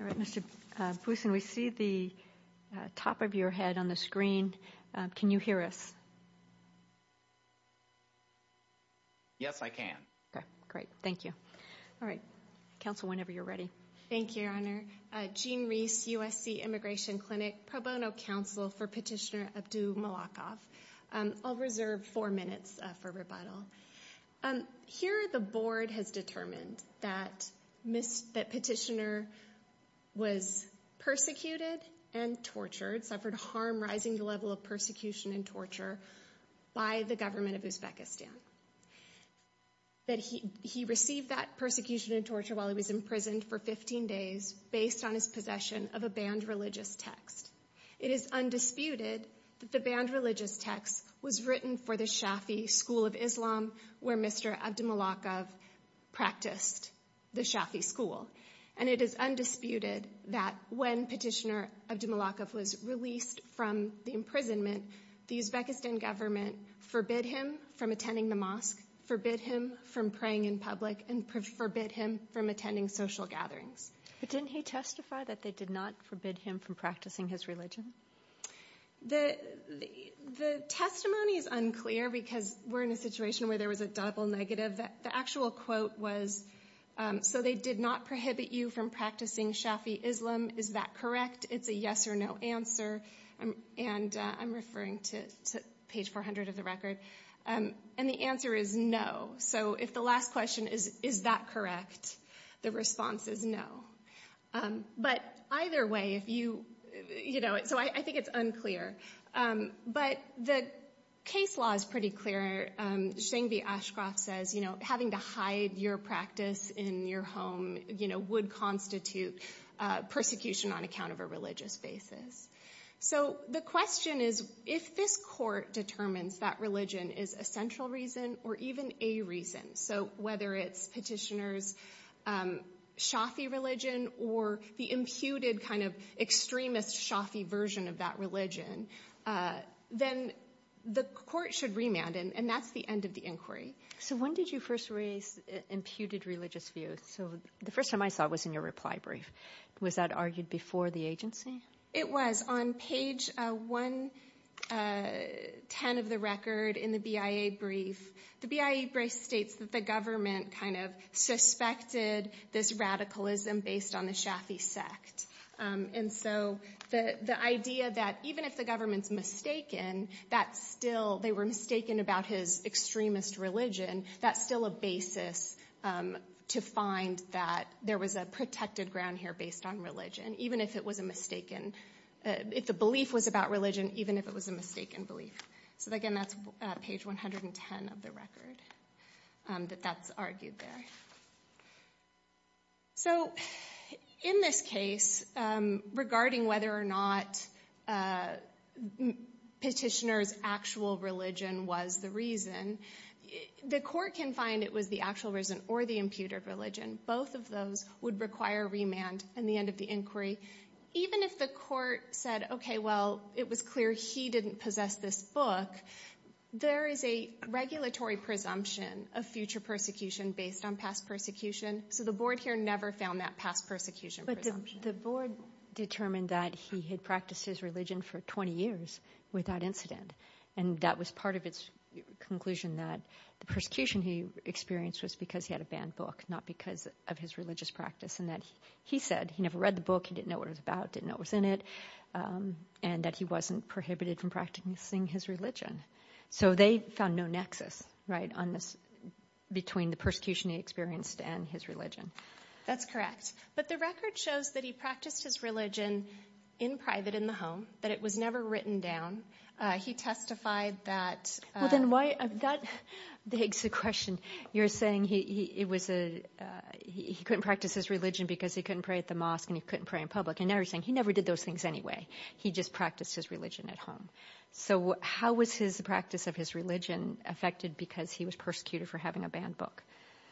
All right, Mr. Poussin, we see the top of your head on the screen. Can you hear us? Yes, I can. Okay, great. Thank you. All right. Counsel, whenever you're ready. Thank you, Your Honor. Jean Reese, USC Immigration Clinic, Pro Bono Counsel for Petitioner Abdumalikov. I'll reserve four minutes for rebuttal. Here, the board has determined that Petitioner was persecuted and tortured, suffered harm rising the level of persecution and torture by the government of Uzbekistan, that he received that persecution and torture while he was imprisoned for 15 days based on his possession of a banned religious text. It is undisputed that the banned religious text was written for the Shafi'i school of Islam, where Mr. Abdumalikov practiced the Shafi'i school. And it is undisputed that when Petitioner Abdumalikov was released from the imprisonment, the Uzbekistan government forbid him from attending the mosque, forbid him from praying in public and forbid him from attending social gatherings. But didn't he testify that they did not forbid him from practicing his religion? The testimony is unclear because we're in a situation where there was a double negative. The actual quote was, so they did not prohibit you from practicing Shafi'i Islam. Is that correct? It's a yes or no answer. And I'm referring to page 400 of the record. And the answer is no. So if the last question is, is that correct? The response is no. But either way, if you, you know, so I think it's unclear. But the case law is pretty clear. Shingvi Ashcroft says, you know, having to hide your practice in your home, you know, would constitute persecution on account of a religious basis. So the question is, if this court determines that religion is a central reason or even a reason, so whether it's Petitioner's Shafi'i religion or the imputed kind of extremist Shafi'i version of that religion, then the court should remand. And that's the end of the inquiry. So when did you first raise imputed religious views? So the first time I saw it was in your reply brief. Was that argued before the agency? It was on page 110 of the record in the BIA brief. The BIA brief states that the government kind of suspected this radicalism based on the Shafi'i sect. And so the idea that even if the government's mistaken, that still, they were mistaken about his extremist religion, that's still a basis to find that there was a protected ground here based on religion, and even if it was a mistaken, if the belief was about religion, even if it was a mistaken belief. So again, that's page 110 of the record, that that's argued there. So in this case, regarding whether or not Petitioner's actual religion was the reason, the court can find it was the actual reason or the imputed religion. Both of those would require remand in the end of the inquiry. Even if the court said, okay, well, it was clear he didn't possess this book, there is a regulatory presumption of future persecution based on past persecution. So the board here never found that past persecution presumption. But the board determined that he had practiced his religion for 20 years without incident, and that was part of its conclusion that the persecution he experienced was because he had a banned book, not because of his religious practice, and that he said he never read the book, he didn't know what it was about, didn't know what was in it, and that he wasn't prohibited from practicing his religion. So they found no nexus between the persecution he experienced and his religion. That's correct. But the record shows that he practiced his religion in private in the home, that it was never written down. He testified that – Well, then that begs the question. You're saying he couldn't practice his religion because he couldn't pray at the mosque and he couldn't pray in public, and now you're saying he never did those things anyway. He just practiced his religion at home. So how was the practice of his religion affected because he was persecuted for having a banned book?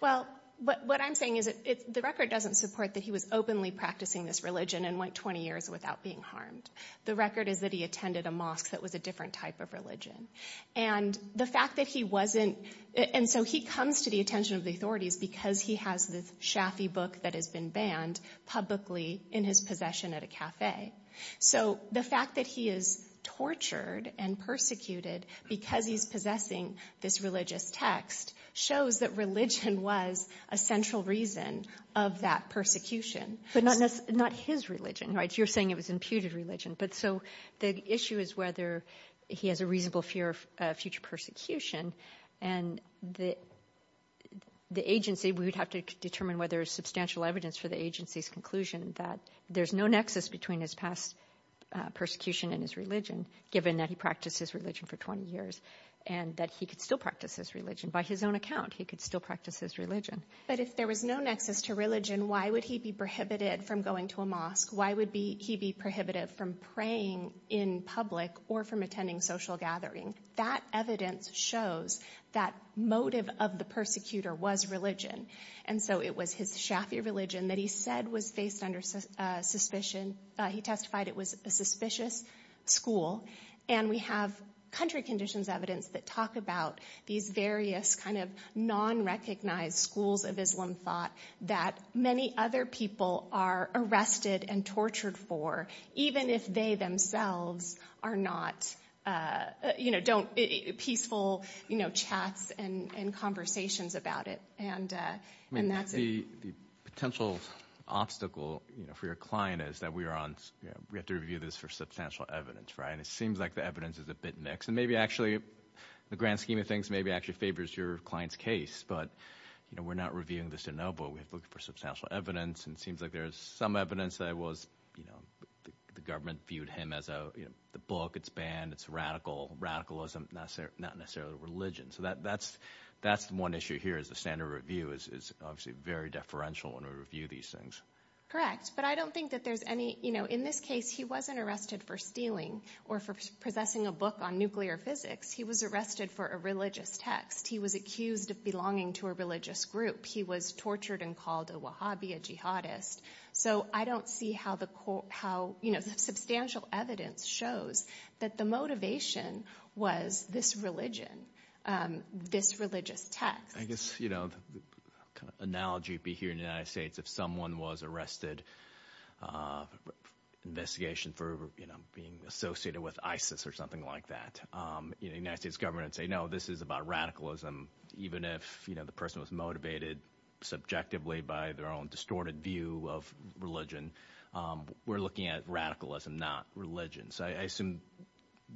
Well, what I'm saying is the record doesn't support that he was openly practicing this religion and went 20 years without being harmed. The record is that he attended a mosque that was a different type of religion. And the fact that he wasn't – and so he comes to the attention of the authorities because he has this Shafi book that has been banned publicly in his possession at a café. So the fact that he is tortured and persecuted because he's possessing this religious text shows that religion was a central reason of that persecution. But not his religion, right? You're saying it was imputed religion. But so the issue is whether he has a reasonable fear of future persecution. And the agency, we would have to determine whether there's substantial evidence for the agency's conclusion that there's no nexus between his past persecution and his religion, given that he practiced his religion for 20 years and that he could still practice his religion. By his own account, he could still practice his religion. But if there was no nexus to religion, why would he be prohibited from going to a mosque? Why would he be prohibited from praying in public or from attending social gathering? That evidence shows that motive of the persecutor was religion. And so it was his Shafi religion that he said was based under suspicion. He testified it was a suspicious school. And we have country conditions evidence that talk about these various kind of non-recognized schools of Islam thought that many other people are arrested and tortured for, even if they themselves are not peaceful chats and conversations about it. And that's it. The potential obstacle for your client is that we have to review this for substantial evidence, right? And it seems like the evidence is a bit mixed. And maybe actually the grand scheme of things maybe actually favors your client's case. But we're not reviewing this to know, but we're looking for substantial evidence. And it seems like there's some evidence that it was the government viewed him as the book. It's banned. It's radical. Radicalism, not necessarily religion. So that's one issue here is the standard review is obviously very deferential when we review these things. Correct, but I don't think that there's any – in this case, he wasn't arrested for stealing or for possessing a book on nuclear physics. He was arrested for a religious text. He was accused of belonging to a religious group. He was tortured and called a Wahhabi, a jihadist. So I don't see how the substantial evidence shows that the motivation was this religion, this religious text. I guess the kind of analogy you'd be hearing in the United States, if someone was arrested, investigation for being associated with ISIS or something like that, the United States government would say, no, this is about radicalism. Even if the person was motivated subjectively by their own distorted view of religion, we're looking at radicalism, not religion. So I assume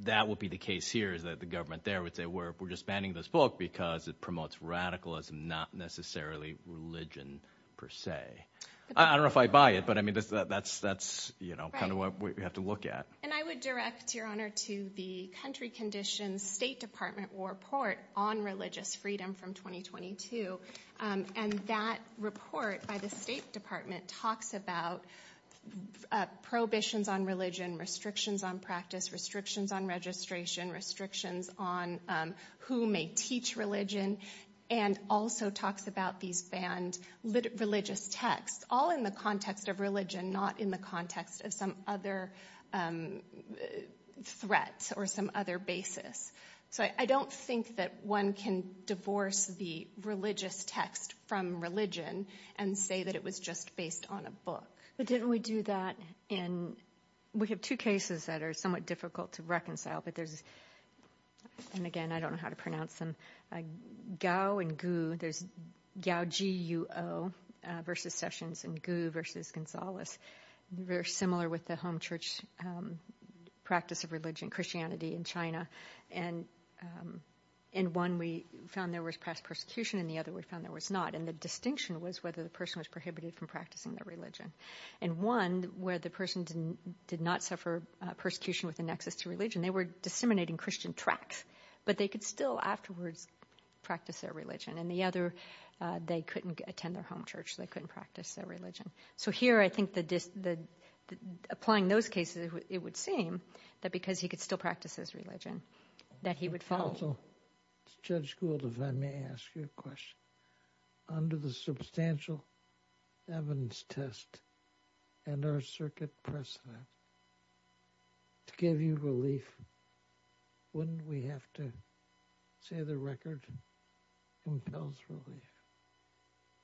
that would be the case here is that the government there would say we're just banning this book because it promotes radicalism, not necessarily religion per se. I don't know if I buy it, but I mean that's kind of what we have to look at. And I would direct, Your Honor, to the country conditions State Department report on religious freedom from 2022. And that report by the State Department talks about prohibitions on religion, restrictions on practice, restrictions on registration, restrictions on who may teach religion, and also talks about these banned religious texts, all in the context of religion, not in the context of some other threats or some other basis. So I don't think that one can divorce the religious text from religion and say that it was just based on a book. But didn't we do that in – we have two cases that are somewhat difficult to reconcile, but there's – and again, I don't know how to pronounce them. Gao and Gu, there's Gao, G-U-O, versus Sessions and Gu versus Gonzalez, very similar with the home church practice of religion, Christianity in China. And in one we found there was past persecution, in the other we found there was not. And the distinction was whether the person was prohibited from practicing their religion. And one, where the person did not suffer persecution with a nexus to religion, they were disseminating Christian tracts. But they could still afterwards practice their religion. And the other, they couldn't attend their home church. They couldn't practice their religion. So here I think the – applying those cases, it would seem that because he could still practice his religion, that he would follow. Also, Judge Gould, if I may ask you a question, under the substantial evidence test and our circuit precedent, to give you relief, wouldn't we have to say the record compels relief?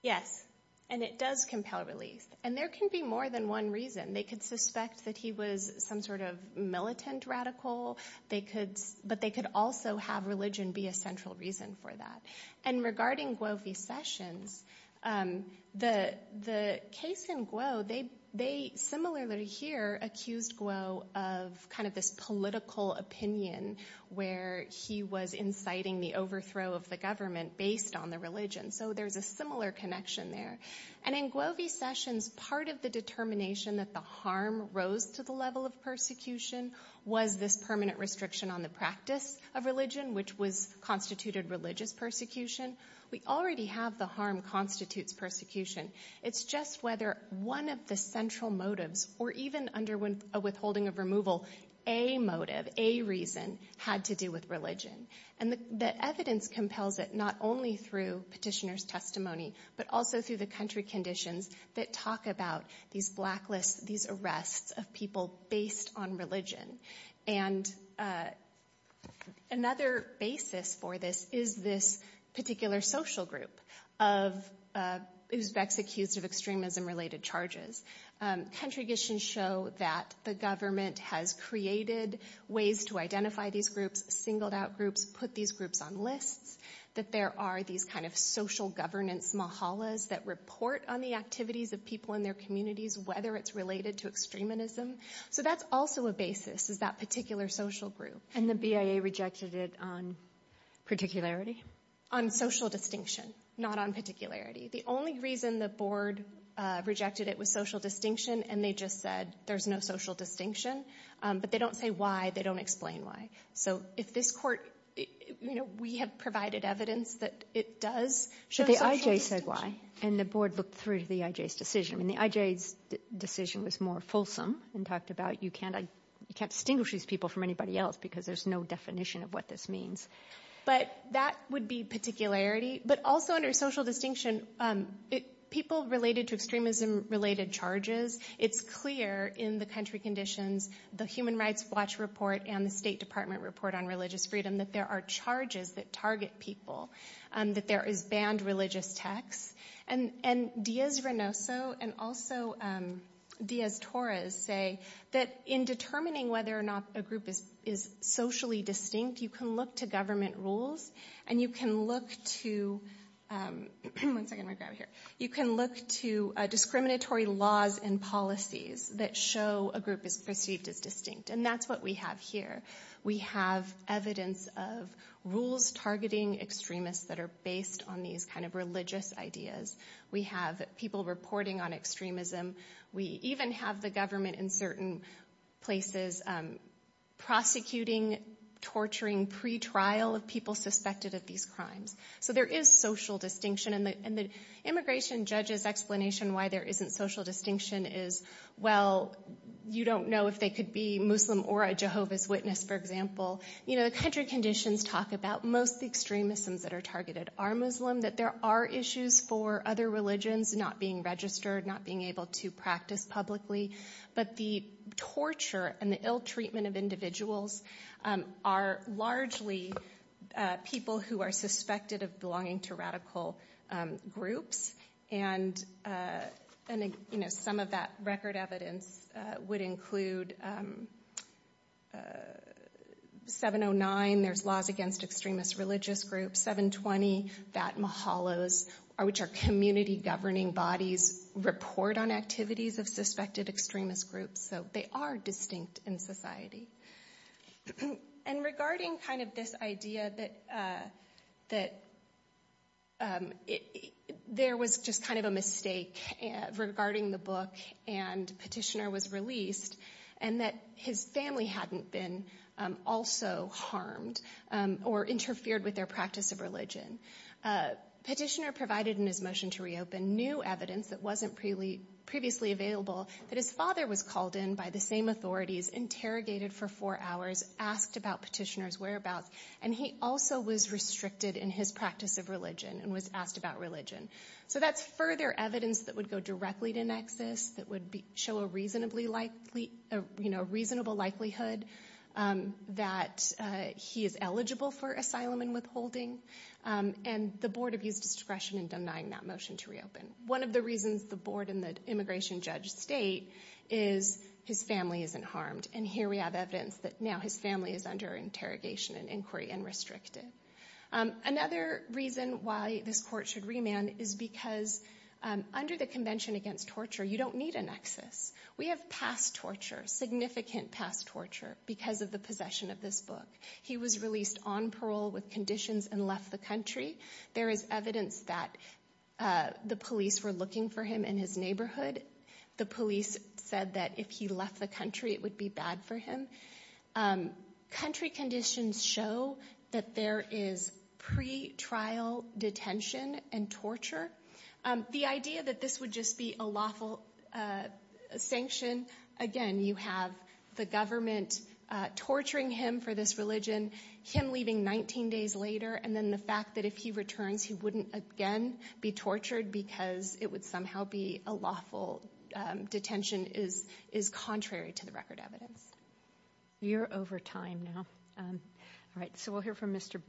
Yes, and it does compel relief. And there can be more than one reason. They could suspect that he was some sort of militant radical. But they could also have religion be a central reason for that. And regarding Guo V. Sessions, the case in Guo, they similarly here accused Guo of kind of this political opinion where he was inciting the overthrow of the government based on the religion. So there's a similar connection there. And in Guo V. Sessions, part of the determination that the harm rose to the level of persecution was this permanent restriction on the practice of religion, which was constituted religious persecution. We already have the harm constitutes persecution. It's just whether one of the central motives, or even under a withholding of removal, a motive, a reason had to do with religion. And the evidence compels it not only through petitioner's testimony, but also through the country conditions that talk about these blacklists, these arrests of people based on religion. And another basis for this is this particular social group who's accused of extremism-related charges. Country conditions show that the government has created ways to identify these groups, singled out groups, put these groups on lists. That there are these kind of social governance mahalas that report on the activities of people in their communities, whether it's related to extremism. So that's also a basis, is that particular social group. And the BIA rejected it on particularity? On social distinction, not on particularity. The only reason the board rejected it was social distinction, and they just said there's no social distinction. But they don't say why. They don't explain why. So if this court, you know, we have provided evidence that it does show social distinction. But the IJ said why, and the board looked through the IJ's decision. I mean, the IJ's decision was more fulsome and talked about you can't distinguish these people from anybody else because there's no definition of what this means. But that would be particularity. But also under social distinction, people related to extremism related charges. It's clear in the country conditions, the Human Rights Watch report and the State Department report on religious freedom, that there are charges that target people. That there is banned religious texts. And Diaz-Renoso and also Diaz-Torres say that in determining whether or not a group is socially distinct, you can look to government rules. And you can look to discriminatory laws and policies that show a group is perceived as distinct. And that's what we have here. We have evidence of rules targeting extremists that are based on these kind of religious ideas. We have people reporting on extremism. We even have the government in certain places prosecuting, torturing pretrial of people suspected of these crimes. So there is social distinction. And the immigration judge's explanation why there isn't social distinction is, well, you don't know if they could be Muslim or a Jehovah's Witness, for example. You know, the country conditions talk about most extremisms that are targeted are Muslim. That there are issues for other religions not being registered, not being able to practice publicly. But the torture and the ill treatment of individuals are largely people who are suspected of belonging to radical groups. And, you know, some of that record evidence would include 709, there's laws against extremist religious groups. 720, Fat Mahalos, which are community governing bodies, report on activities of suspected extremist groups. So they are distinct in society. And regarding kind of this idea that there was just kind of a mistake regarding the book and Petitioner was released, and that his family hadn't been also harmed or interfered with their practice of religion. Petitioner provided in his motion to reopen new evidence that wasn't previously available, that his father was called in by the same authorities, interrogated for four hours, asked about Petitioner's whereabouts, and he also was restricted in his practice of religion and was asked about religion. So that's further evidence that would go directly to Nexus, that would show a reasonable likelihood that he is eligible for asylum and withholding. And the board abused discretion in denying that motion to reopen. One of the reasons the board and the immigration judge state is his family isn't harmed. And here we have evidence that now his family is under interrogation and inquiry and restricted. Another reason why this court should remand is because under the Convention Against Torture, you don't need a nexus. We have past torture, significant past torture, because of the possession of this book. He was released on parole with conditions and left the country. There is evidence that the police were looking for him in his neighborhood. The police said that if he left the country, it would be bad for him. Country conditions show that there is pretrial detention and torture. The idea that this would just be a lawful sanction, again, you have the government torturing him for this religion, him leaving 19 days later, and then the fact that if he returns, he wouldn't again be tortured because it would somehow be a lawful detention is contrary to the record evidence. You're over time now. All right, so we'll hear from Mr.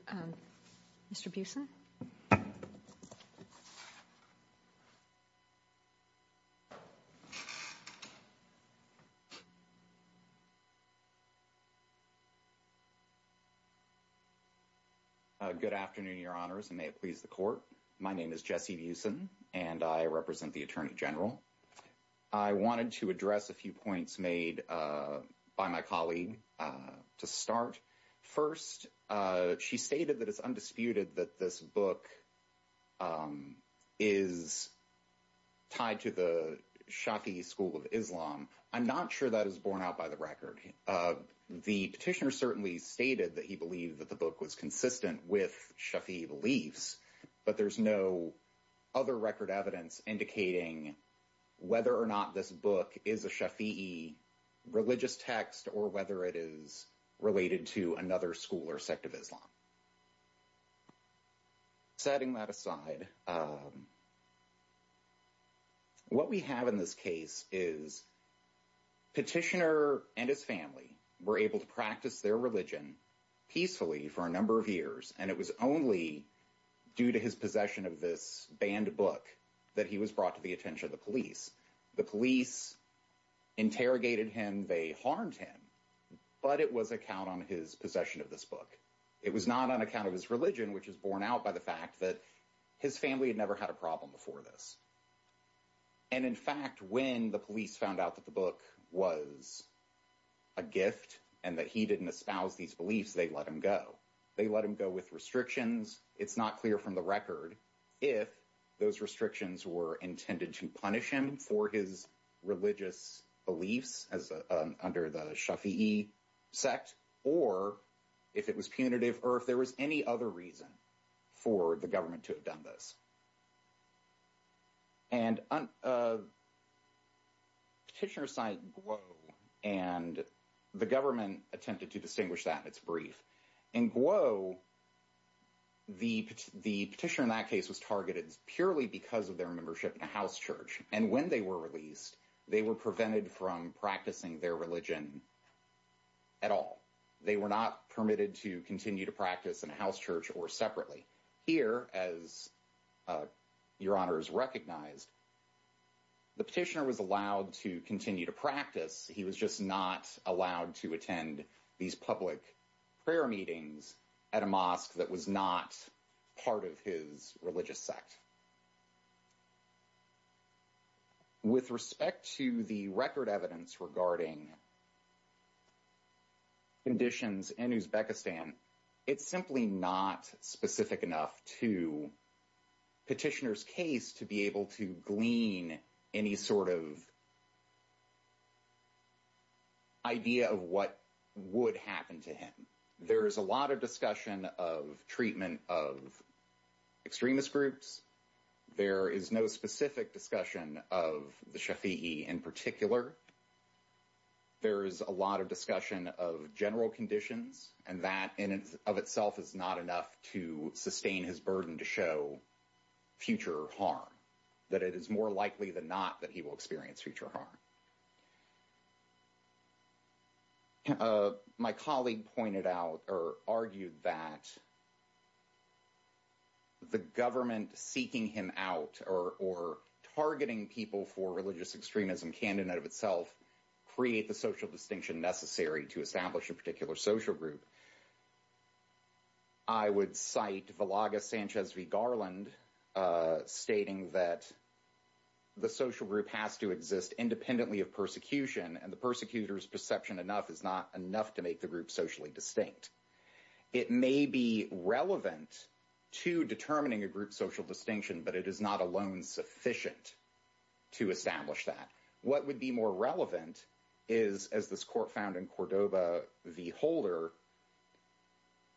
Buesen. Good afternoon, Your Honors, and may it please the court. My name is Jesse Buesen, and I represent the attorney general. I wanted to address a few points made by my colleague to start. First, she stated that it's undisputed that this book is tied to the Shafi'i school of Islam. I'm not sure that is borne out by the record. The petitioner certainly stated that he believed that the book was consistent with Shafi'i beliefs, but there's no other record evidence indicating whether or not this book is a Shafi'i religious text or whether it is related to another school or sect of Islam. Setting that aside, what we have in this case is petitioner and his family were able to practice their religion peacefully for a number of years, and it was only due to his possession of this banned book that he was brought to the attention of the police. The police interrogated him. They harmed him, but it was a count on his possession of this book. It was not on account of his religion, which is borne out by the fact that his family had never had a problem before this. And in fact, when the police found out that the book was a gift and that he didn't espouse these beliefs, they let him go. They let him go with restrictions. It's not clear from the record if those restrictions were intended to punish him for his religious beliefs under the Shafi'i sect or if it was punitive or if there was any other reason for the government to have done this. And petitioner signed Guo, and the government attempted to distinguish that in its brief. In Guo, the petitioner in that case was targeted purely because of their membership in a house church. And when they were released, they were prevented from practicing their religion at all. They were not permitted to continue to practice in a house church or separately. Here, as your honors recognized, the petitioner was allowed to continue to practice. He was just not allowed to attend these public prayer meetings at a mosque that was not part of his religious sect. But with respect to the record evidence regarding conditions in Uzbekistan, it's simply not specific enough to petitioner's case to be able to glean any sort of idea of what would happen to him. There is a lot of discussion of treatment of extremist groups. There is no specific discussion of the Shafi'i in particular. There is a lot of discussion of general conditions, and that in and of itself is not enough to sustain his burden to show future harm, that it is more likely than not that he will experience future harm. My colleague pointed out or argued that the government seeking him out or targeting people for religious extremism can, in and of itself, create the social distinction necessary to establish a particular social group. I would cite Vilaga Sanchez v. Garland stating that the social group has to exist independently of persecution, and the persecutor's perception enough is not enough to make the group socially distinct. It may be relevant to determining a group social distinction, but it is not alone sufficient to establish that. What would be more relevant is, as this court found in Cordoba v. Holder,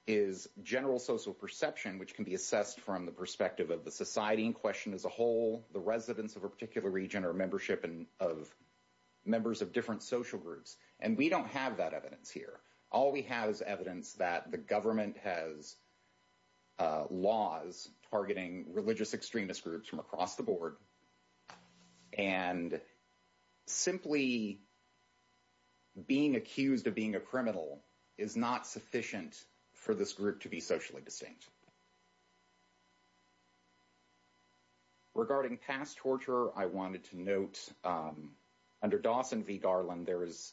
is general social perception, which can be assessed from the perspective of the society in question as a whole, the residents of a particular region, or membership of members of different social groups. And we don't have that evidence here. All we have is evidence that the government has laws targeting religious extremist groups from across the board, and simply being accused of being a criminal is not sufficient for this group to be socially distinct. Regarding past torture, I wanted to note under Dawson v. Garland,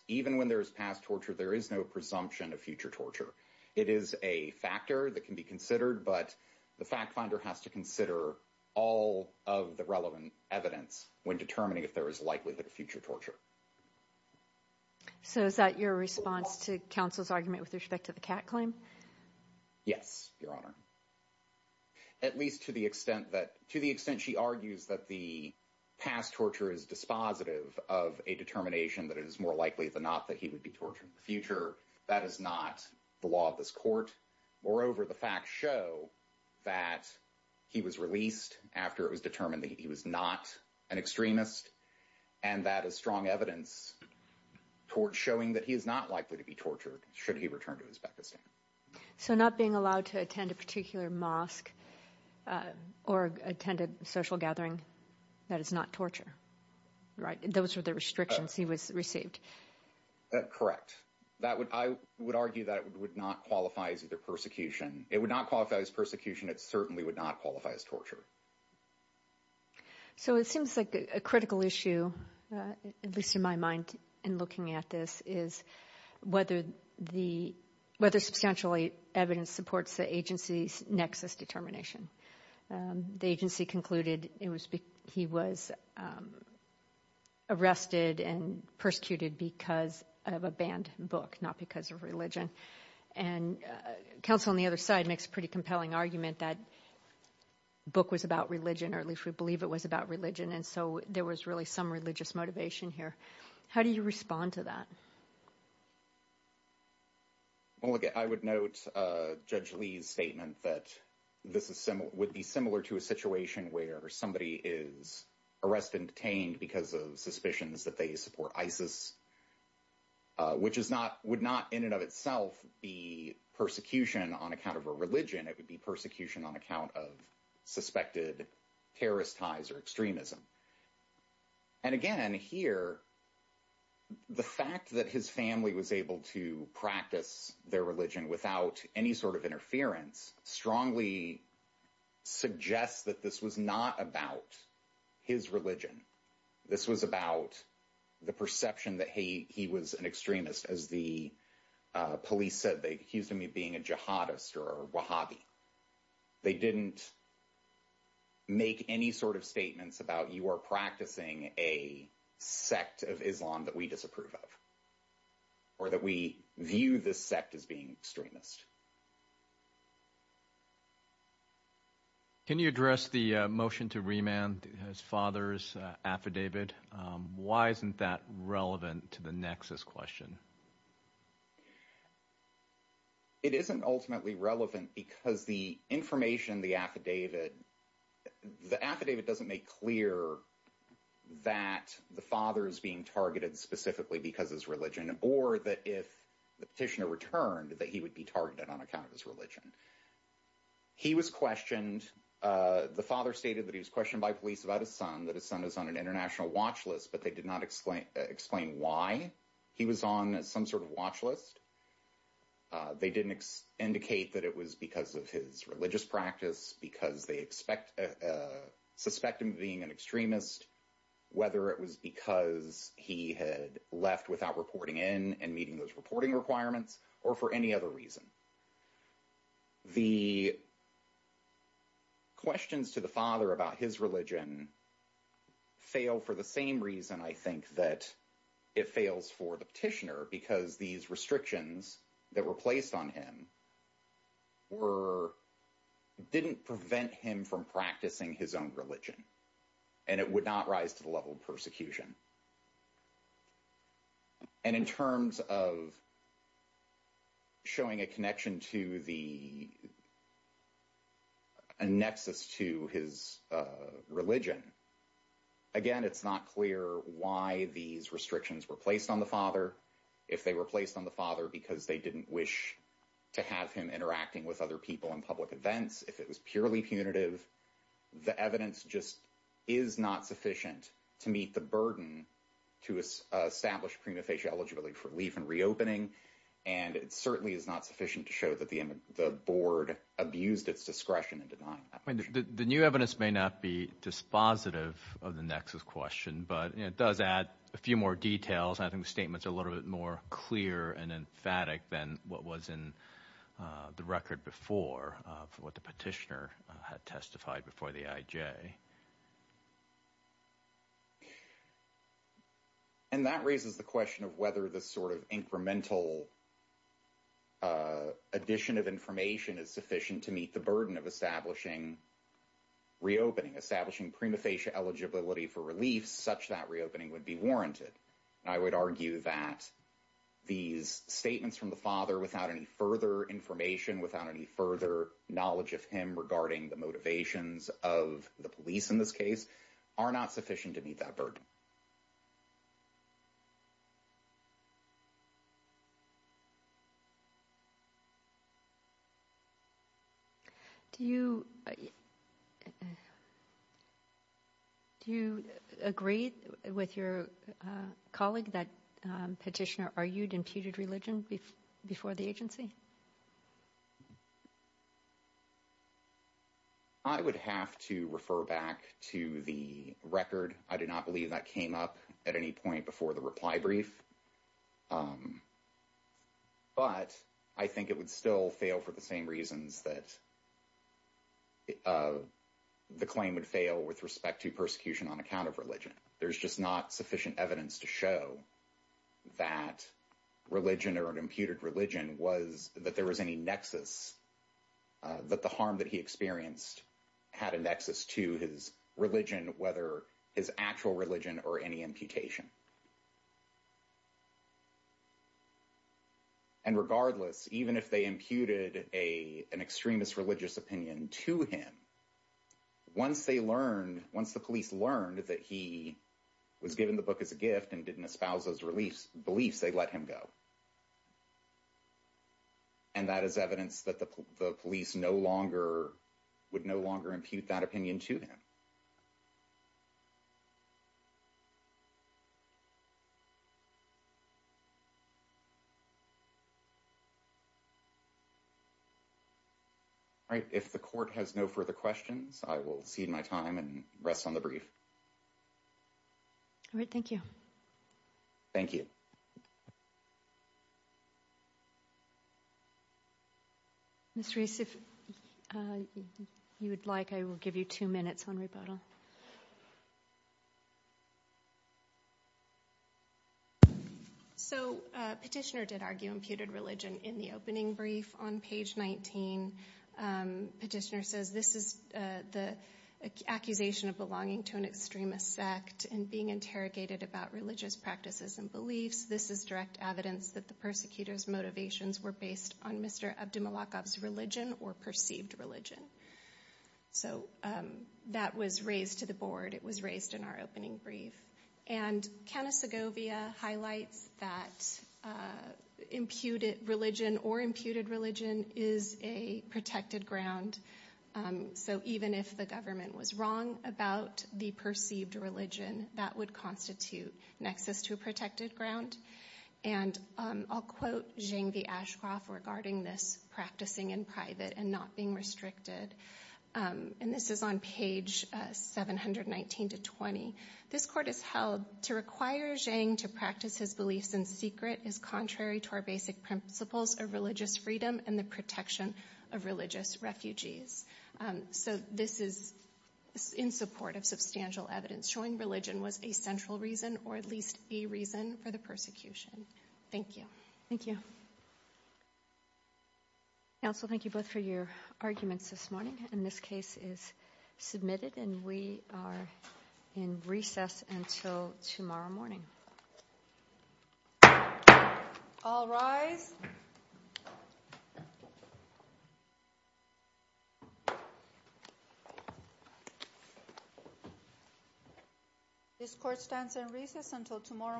even when there is past torture, there is no presumption of future torture. It is a factor that can be considered, but the fact finder has to consider all of the relevant evidence when determining if there is likelihood of future torture. So is that your response to counsel's argument with respect to the cat claim? Yes, Your Honor. At least to the extent that to the extent she argues that the past torture is dispositive of a determination that it is more likely than not that he would be tortured in the future. That is not the law of this court. Moreover, the facts show that he was released after it was determined that he was not an extremist, and that is strong evidence towards showing that he is not likely to be tortured should he return to Uzbekistan. So not being allowed to attend a particular mosque or attended social gathering, that is not torture, right? Those were the restrictions he was received. Correct. I would argue that it would not qualify as either persecution. It would not qualify as persecution. It certainly would not qualify as torture. So it seems like a critical issue, at least in my mind in looking at this, is whether substantially evidence supports the agency's nexus determination. The agency concluded he was arrested and persecuted because of a banned book, not because of religion. And counsel on the other side makes a pretty compelling argument that the book was about religion, or at least we believe it was about religion. And so there was really some religious motivation here. How do you respond to that? Well, I would note Judge Lee's statement that this would be similar to a situation where somebody is arrested and detained because of suspicions that they support ISIS, which would not in and of itself be persecution on account of a religion. It would be persecution on account of suspected terrorist ties or extremism. And again, here, the fact that his family was able to practice their religion without any sort of interference strongly suggests that this was not about his religion. This was about the perception that he was an extremist. As the police said, they accused him of being a jihadist or a Wahhabi. They didn't make any sort of statements about you are practicing a sect of Islam that we disapprove of or that we view this sect as being extremist. Can you address the motion to remand his father's affidavit? Why isn't that relevant to the nexus question? It isn't ultimately relevant because the information, the affidavit, the affidavit doesn't make clear that the father is being targeted specifically because his religion or that if the petitioner returned that he would be targeted on account of his religion. He was questioned. The father stated that he was questioned by police about his son, that his son is on an international watch list, but they did not explain why he was on some sort of watch list. They didn't indicate that it was because of his religious practice, because they expect suspect him being an extremist, whether it was because he had left without reporting in and meeting those reporting requirements or for any other reason. The questions to the father about his religion fail for the same reason, I think, that it fails for the petitioner because these restrictions that were placed on him were didn't prevent him from practicing his own religion and it would not rise to the level of persecution. And in terms of showing a connection to the nexus to his religion, again, it's not clear why these restrictions were placed on the father, if they were placed on the father because they didn't wish to have him interacting with other people in public events. If it was purely punitive, the evidence just is not sufficient to meet the burden to establish prima facie eligibility for leave and reopening, and it certainly is not sufficient to show that the board abused its discretion and did not. I mean, the new evidence may not be dispositive of the nexus question, but it does add a few more details. I think the statements are a little bit more clear and emphatic than what was in the record before for what the petitioner had testified before the IJ. And that raises the question of whether this sort of incremental addition of information is sufficient to meet the burden of establishing reopening, establishing prima facie eligibility for relief such that reopening would be warranted. I would argue that these statements from the father without any further information, without any further knowledge of him regarding the motivations of the police in this case are not sufficient to meet that burden. Do you agree with your colleague that petitioner argued imputed religion before the agency? I would have to refer back to the record. I do not believe that came up at any point before the reply brief. But I think it would still fail for the same reasons that the claim would fail with respect to persecution on account of religion. There's just not sufficient evidence to show that religion or an imputed religion was that there was any nexus that the harm that he experienced had a nexus to his religion, whether his actual religion or any imputation. And regardless, even if they imputed an extremist religious opinion to him, once they learned, once the police learned that he was given the book as a gift and didn't espouse those beliefs, they let him go. And that is evidence that the police no longer would no longer impute that opinion to him. Right. If the court has no further questions, I will cede my time and rest on the brief. All right. Thank you. Thank you. Mr. Reese, if you would like, I will give you two minutes on rebuttal. So Petitioner did argue imputed religion in the opening brief on page 19. Petitioner says this is the accusation of belonging to an extremist sect and being interrogated about religious practices and beliefs. This is direct evidence that the persecutor's motivations were based on Mr. Abdumalakab's religion or perceived religion. So that was raised to the board. It was raised in our opening brief. And Canis Agovia highlights that imputed religion or imputed religion is a protected ground. So even if the government was wrong about the perceived religion, that would constitute nexus to a protected ground. And I'll quote Zhang V. Ashcroft regarding this practicing in private and not being restricted. And this is on page 719 to 20. This court has held to require Zhang to practice his beliefs in secret is contrary to our basic principles of religious freedom and the protection of religious refugees. So this is in support of substantial evidence showing religion was a central reason or at least a reason for the persecution. Thank you. Thank you. Counsel, thank you both for your arguments this morning. And this case is submitted and we are in recess until tomorrow morning. All rise. This court stands in recess until tomorrow morning.